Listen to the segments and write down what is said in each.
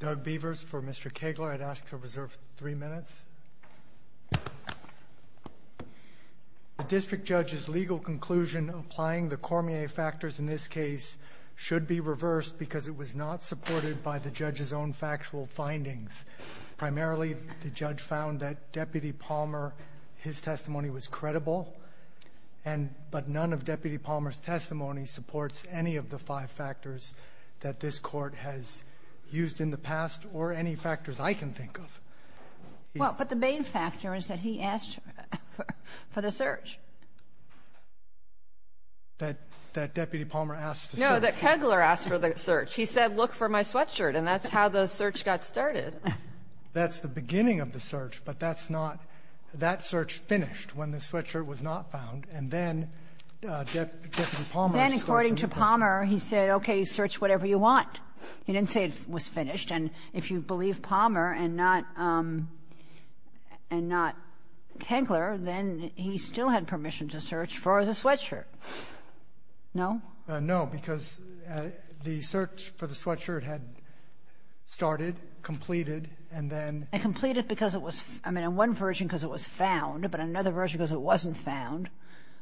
Doug Beavers for Mr. Kegler. I'd ask to reserve three minutes. The district judge's legal conclusion applying the Cormier factors in this case should be reversed because it was not supported by the judge's own factual findings. Primarily the judge found that Deputy Palmer, his testimony was credible and but none of Deputy Palmer's testimony supports any of the five factors that this Court has used in the past or any factors I can think of. Well, but the main factor is that he asked for the search. That Deputy Palmer asked for the search. No, that Kegler asked for the search. He said, look for my sweatshirt. And that's how the search got started. That's the beginning of the search. But that's not that search finished when the sweatshirt was not found. And then Deputy Palmer's search was over. Mr. Palmer, he said, okay, search whatever you want. He didn't say it was finished. And if you believe Palmer and not Kegler, then he still had permission to search for the sweatshirt. No? No, because the search for the sweatshirt had started, completed, and then ‑‑ It completed because it was ‑‑ I mean, in one version because it was found, but in another version because it wasn't found.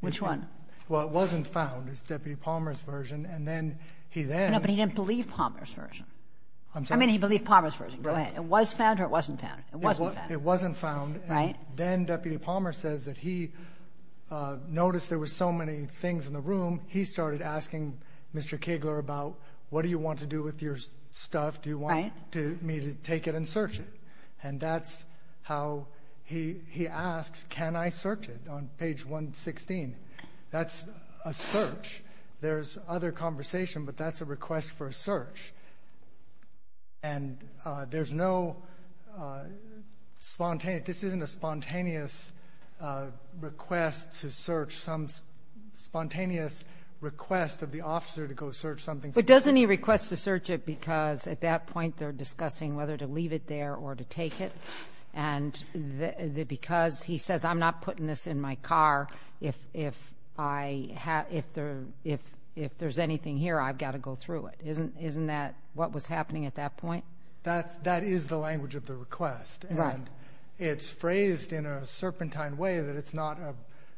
Which one? Well, it wasn't found, is Deputy Palmer's version. And then he then ‑‑ No, but he didn't believe Palmer's version. I'm sorry? I mean, he believed Palmer's version. Go ahead. It was found or it wasn't found? It wasn't found. It wasn't found. Right. And then Deputy Palmer says that he noticed there were so many things in the room, he started asking Mr. Kegler about what do you want to do with your stuff? Right. Do you want me to take it and search it? And that's how he asks, can I search it on page 116? That's a search. There's other conversation, but that's a request for a search. And there's no spontaneous ‑‑ this isn't a spontaneous request to search, some spontaneous request of the officer to go search something. But doesn't he request to search it because at that point they're discussing whether to leave it there or to take it? And because he says, I'm not putting this in my car. If there's anything here, I've got to go through it. Isn't that what was happening at that point? That is the language of the request. Right. And it's phrased in a serpentine way that it's not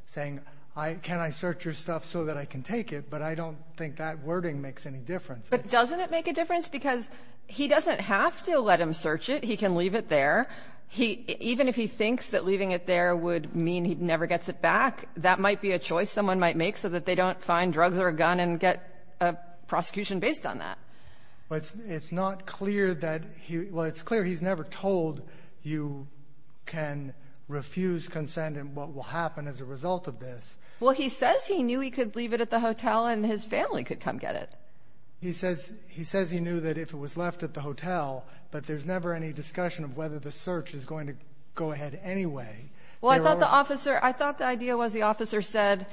saying, can I search your stuff so that I can take it? But I don't think that wording makes any difference. But doesn't it make a difference? Because he doesn't have to let him search it. He can leave it there. Even if he thinks that leaving it there would mean he never gets it back, that might be a choice someone might make so that they don't find drugs or a gun and get a prosecution based on that. But it's not clear that ‑‑ well, it's clear he's never told you can refuse consent and what will happen as a result of this. Well, he says he knew he could leave it at the hotel and his family could come get it. He says he knew that if it was left at the hotel, but there's never any discussion of whether the search is going to go ahead anyway. Well, I thought the idea was the officer said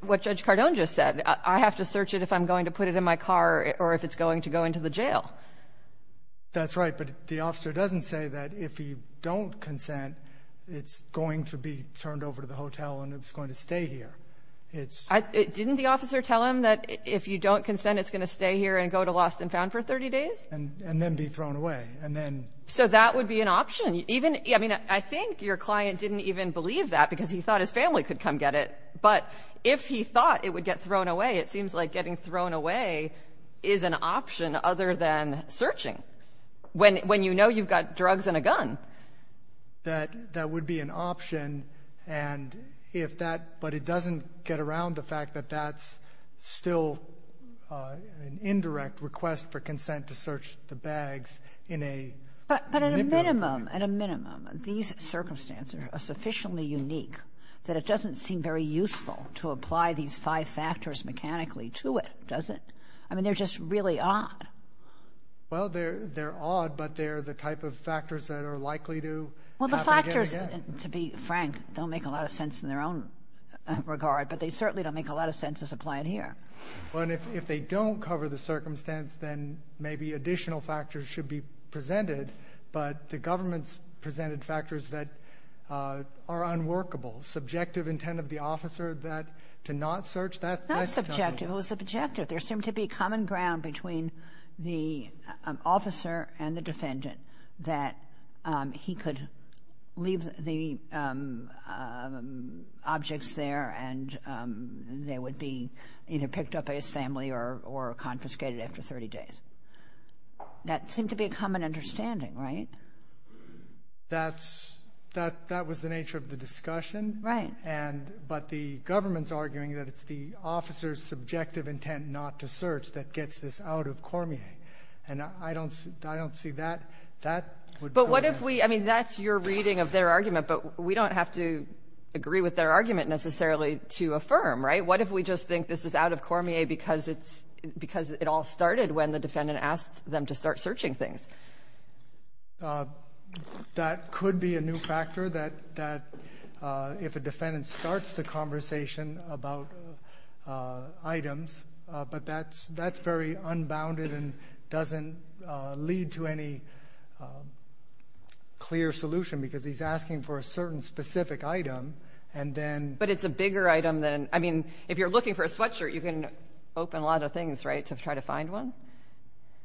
what Judge Cardone just said. I have to search it if I'm going to put it in my car or if it's going to go into the jail. That's right. But the officer doesn't say that if you don't consent, it's going to be turned over to the hotel and it's going to stay here. Didn't the officer tell him that if you don't consent, it's going to stay here and go to lost and found for 30 days? And then be thrown away. So that would be an option. I mean, I think your client didn't even believe that because he thought his family could come get it. But if he thought it would get thrown away, it seems like getting thrown away is an option other than searching when you know you've got drugs and a gun. That would be an option. And if that — but it doesn't get around the fact that that's still an indirect request for consent to search the bags in a — But at a minimum, at a minimum, these circumstances are sufficiently unique that it doesn't seem very useful to apply these five factors mechanically to it, does it? I mean, they're just really odd. Well, they're odd, but they're the type of factors that are likely to happen again and again. Well, the factors, to be frank, don't make a lot of sense in their own regard, but they certainly don't make a lot of sense as applied here. Well, and if they don't cover the circumstance, then maybe additional factors should be presented, but the government's presented factors that are unworkable. Subjective intent of the officer that — to not search, that's — Not subjective. It was subjective. There seemed to be common ground between the officer and the defendant that he could leave the objects there and they would be either picked up by his family or confiscated after 30 days. That seemed to be a common understanding, right? That's — that was the nature of the discussion. Right. And — but the government's arguing that it's the officer's subjective intent not to search that gets this out of Cormier, and I don't see that. That would be — But what if we — I mean, that's your reading of their argument, but we don't have to agree with their argument necessarily to affirm, right? What if we just think this is out of Cormier because it's — because it all started when the defendant asked them to start searching things? That could be a new factor that if a defendant starts the conversation about items, but that's very unbounded and doesn't lead to any clear solution because he's asking for a certain specific item, and then — But it's a bigger item than — I mean, if you're looking for a sweatshirt, you can open a lot of things, right, to try to find one?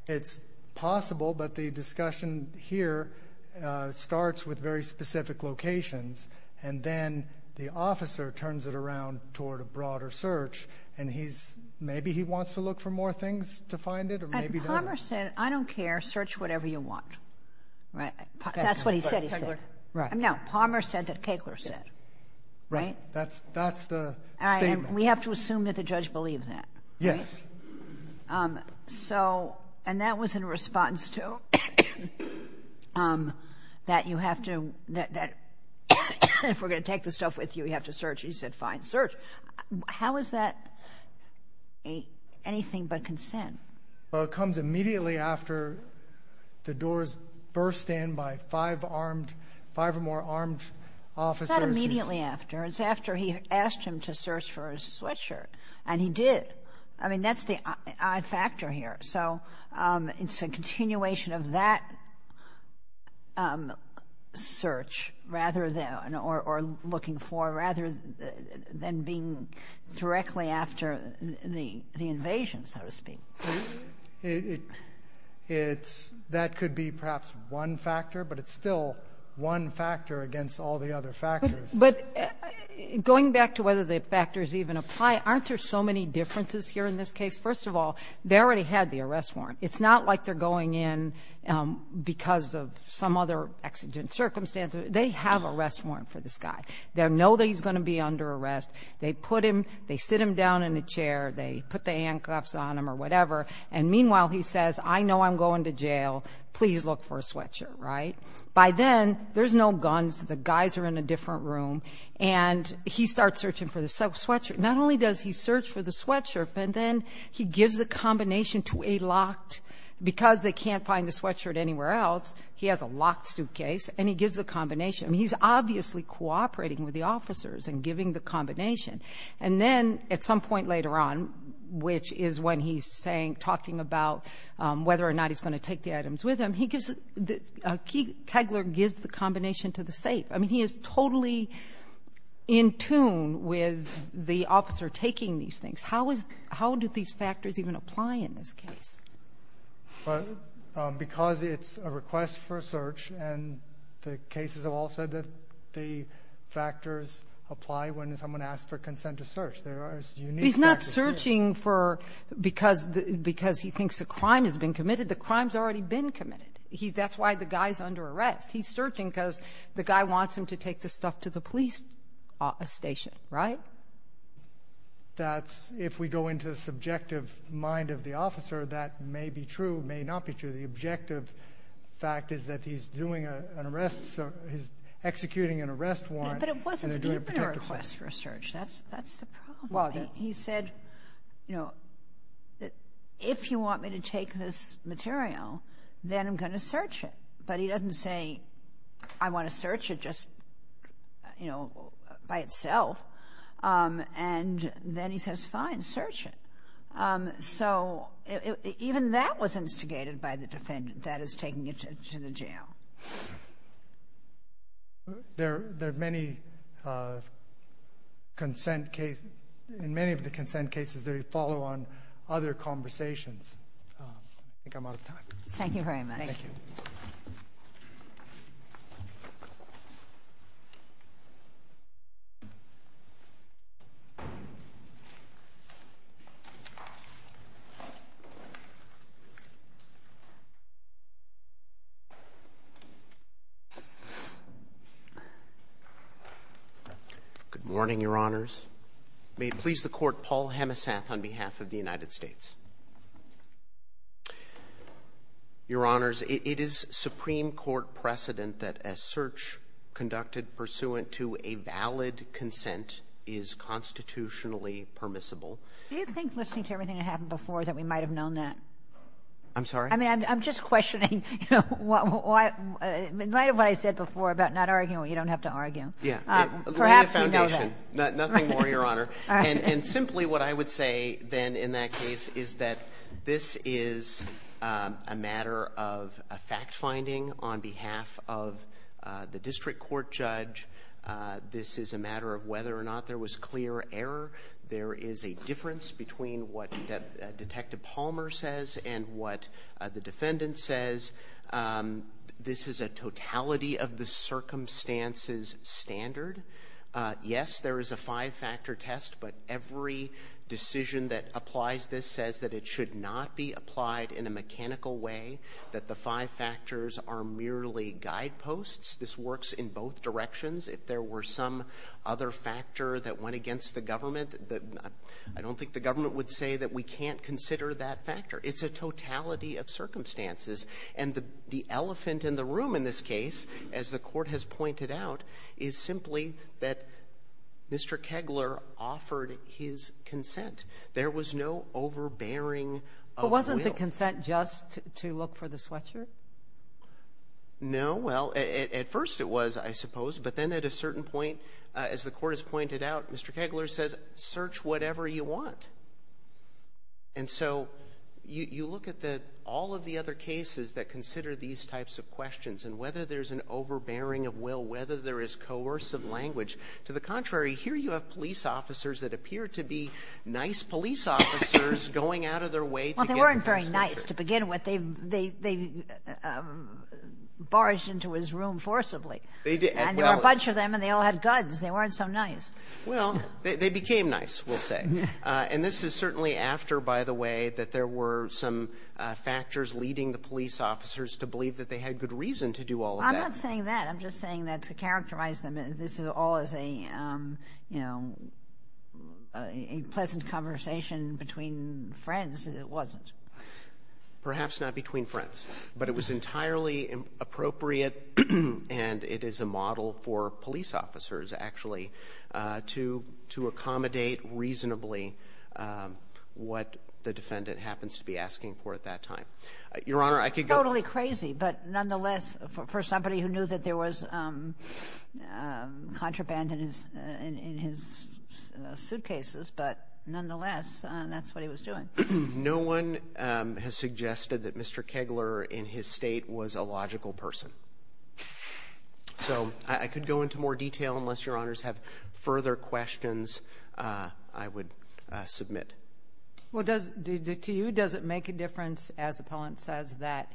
It's possible, but the discussion here starts with very specific locations, and then the officer turns it around toward a broader search, and he's — maybe he wants to look for more things to find it or maybe doesn't. And Palmer said, I don't care, search whatever you want. Right? That's what he said he said. Right. No, Palmer said that Keckler said. Right? That's the statement. And we have to assume that the judge believed that, right? Yes. So — and that was in response to that you have to — that if we're going to take the stuff with you, we have to search. He said, fine, search. How is that anything but consent? Well, it comes immediately after the doors burst in by five armed — five or more armed officers. It's not immediately after. It's after he asked him to search for his sweatshirt, and he did. I mean, that's the odd factor here. So it's a continuation of that search rather than — or looking for rather than being directly after the invasion, so to speak. It's — that could be perhaps one factor, but it's still one factor against all the other factors. But going back to whether the factors even apply, aren't there so many differences here in this case? First of all, they already had the arrest warrant. It's not like they're going in because of some other exigent circumstance. They have arrest warrant for this guy. They know that he's going to be under arrest. They put him — they sit him down in a chair. They put the handcuffs on him or whatever. And meanwhile, he says, I know I'm going to jail. Please look for a sweatshirt. Right? By then, there's no guns. The guys are in a different room. And he starts searching for the sweatshirt. Not only does he search for the sweatshirt, but then he gives a combination to a locked — because they can't find the sweatshirt anywhere else, he has a locked suitcase, and he gives the combination. I mean, he's obviously cooperating with the officers and giving the combination. And then at some point later on, which is when he's saying — talking about whether or not he's going to take the items with him, he gives — Kegler gives the combination to the safe. I mean, he is totally in tune with the officer taking these things. How is — how do these factors even apply in this case? Well, because it's a request for a search, and the cases have all said that the factors apply when someone asks for consent to search. There are unique factors. He's not searching for — because he thinks a crime has been committed. The crime's already been committed. That's why the guy's under arrest. He's searching because the guy wants him to take the stuff to the police station, right? That's — if we go into the subjective mind of the officer, that may be true, may not be true. The objective fact is that he's doing an arrest — he's executing an arrest warrant. But it wasn't even a request for a search. That's the problem. Well, he said, you know, if you want me to take this material, then I'm going to search it. But he doesn't say, I want to search it just, you know, by itself. And then he says, fine, search it. So even that was instigated by the defendant, that is, taking it to the jail. There are many consent cases. In many of the consent cases, they follow on other conversations. I think I'm out of time. Thank you very much. Thank you. Good morning, Your Honors. May it please the Court, Paul Hemesath on behalf of the United States. Your Honors, it is Supreme Court precedent that a search conducted pursuant to a valid consent is constitutionally permissible. Do you think, listening to everything that happened before, that we might have known that? I'm sorry? I mean, I'm just questioning, you know, in light of what I said before about not arguing what you don't have to argue. Yeah. Perhaps we know that. Nothing more, Your Honor. And simply what I would say then in that case is that this is a matter of a fact-finding on behalf of the district court judge. This is a matter of whether or not there was clear error. There is a difference between what Detective Palmer says and what the defendant says. This is a totality of the circumstances standard. Yes, there is a five-factor test, but every decision that applies this says that it should not be applied in a mechanical way, that the five factors are merely guideposts. This works in both directions. If there were some other factor that went against the government, I don't think the government would say that we can't consider that factor. It's a totality of circumstances. And the elephant in the room in this case, as the court has pointed out, is simply that Mr. Kegler offered his consent. There was no overbearing of will. But wasn't the consent just to look for the sweatshirt? No. Well, at first it was, I suppose, but then at a certain point, as the court has pointed out, Mr. Kegler says, search whatever you want. And so you look at the all of the other cases that consider these types of questions and whether there's an overbearing of will, whether there is coercive language. To the contrary, here you have police officers that appear to be nice police officers going out of their way to get the sweatshirt. They barged into his room forcibly. And there were a bunch of them and they all had guns. They weren't so nice. Well, they became nice, we'll say. And this is certainly after, by the way, that there were some factors leading the police officers to believe that they had good reason to do all of that. I'm not saying that. I'm just saying that to characterize them. This is all as a pleasant conversation between friends. It wasn't. Perhaps not between friends, but it was entirely appropriate and it is a model for police officers, actually, to accommodate reasonably what the defendant happens to be asking for at that time. Your Honor, I could go on. It's totally crazy, but nonetheless, for somebody who knew that there was contraband in his suitcases, but nonetheless, that's what he was doing. No one has suggested that Mr. Kegler in his state was a logical person. So I could go into more detail unless Your Honors have further questions I would submit. Well, to you, does it make a difference, as appellant says, that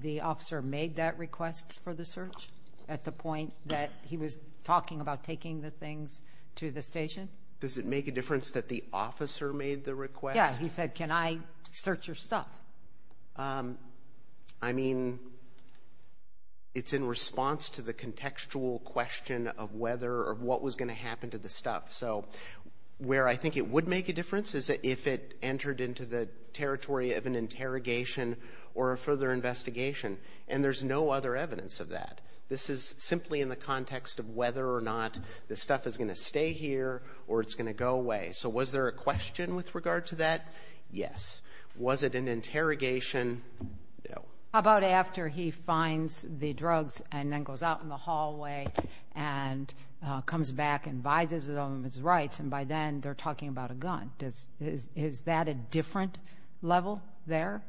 the officer made that request for the search at the point that he was talking about taking the things to the station? Does it make a difference that the officer made the request? Yeah, he said, can I search your stuff? I mean, it's in response to the contextual question of whether or what was going to happen to the stuff. So where I think it would make a difference is if it entered into the territory of an interrogation or a further investigation, and there's no other evidence of that. This is simply in the context of whether or not the stuff is going to stay here or it's going to go away. So was there a question with regard to that? Yes. Was it an interrogation? No. How about after he finds the drugs and then goes out in the hallway and comes back and vizes them his rights, and by then they're talking about a gun? Is that a different level there?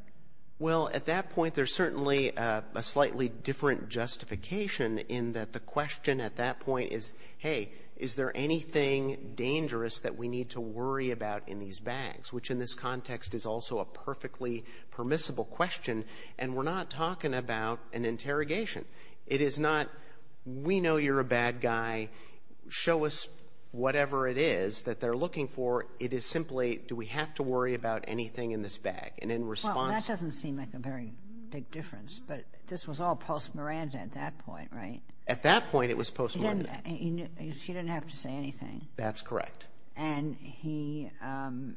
Well, at that point there's certainly a slightly different justification in that the question at that point is, hey, is there anything dangerous that we need to worry about in these bags, which in this context is also a perfectly permissible question, and we're not talking about an interrogation. It is not, we know you're a bad guy, show us whatever it is that they're looking for. It is simply, do we have to worry about anything in this bag? Well, that doesn't seem like a very big difference, but this was all post-Miranda at that point, right? At that point it was post-Miranda. She didn't have to say anything. That's correct. And the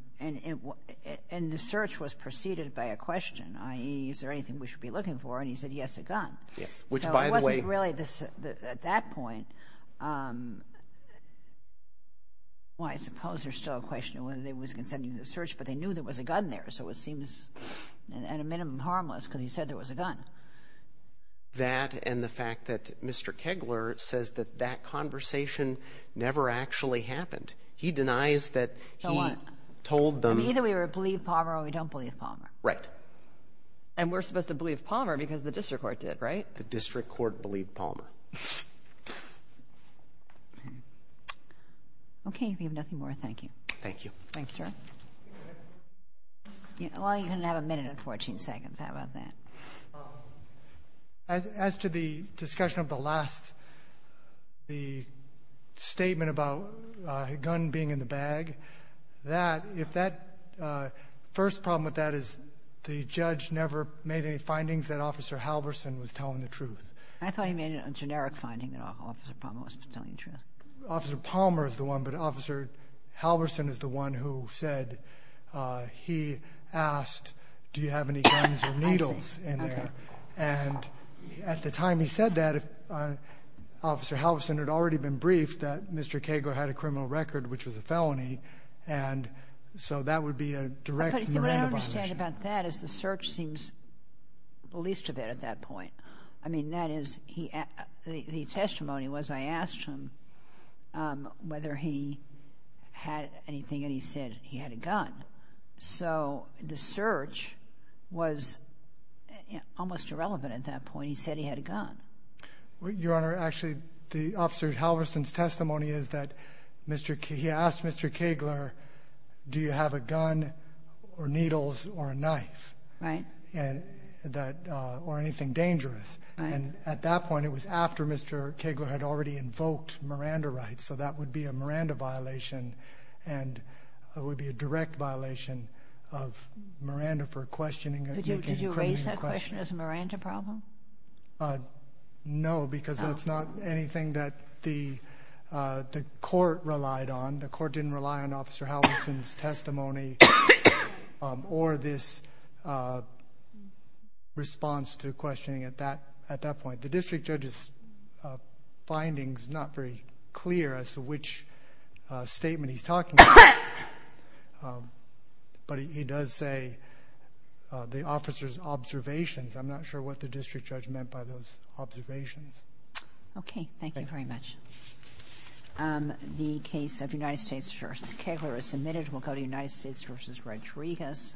search was preceded by a question, i.e., is there anything we should be looking for? And he said, yes, a gun. Yes, which by the way— So it wasn't really at that point, well, I suppose there's still a question of whether they were consenting to the search, but they knew there was a gun there, so it seems at a minimum harmless because he said there was a gun. That and the fact that Mr. Kegler says that that conversation never actually happened. He denies that he told them— Either we believe Palmer or we don't believe Palmer. Right. And we're supposed to believe Palmer because the district court did, right? The district court believed Palmer. Okay, if you have nothing more, thank you. Thank you. Thank you, sir. Well, you can have a minute and 14 seconds. How about that? As to the discussion of the last—the statement about a gun being in the bag, that—if that—first problem with that is the judge never made any findings that Officer Halverson was telling the truth. I thought he made a generic finding that Officer Palmer was telling the truth. Officer Palmer is the one, but Officer Halverson is the one who said he asked, do you have any guns or needles in there? Okay. And at the time he said that, Officer Halverson had already been briefed that Mr. Kegler had a criminal record, which was a felony, and so that would be a direct Miranda violation. But what I don't understand about that is the search seems the least of it at that point. I mean, that is—the testimony was I asked him whether he had anything, and he said he had a gun. So the search was almost irrelevant at that point. He said he had a gun. Your Honor, actually, the Officer Halverson's testimony is that Mr. K—he asked Mr. Kegler, do you have a gun or needles or a knife. Right. Or anything dangerous. And at that point it was after Mr. Kegler had already invoked Miranda rights, so that would be a Miranda violation, and it would be a direct violation of Miranda for questioning— Did you raise that question as a Miranda problem? No, because that's not anything that the court relied on. The court didn't rely on Officer Halverson's testimony or this response to questioning at that point. The district judge's finding is not very clear as to which statement he's talking about, but he does say the officer's observations. I'm not sure what the district judge meant by those observations. Okay. Thank you very much. The case of United States v. Kegler is submitted. We'll go to United States v. Rodriguez.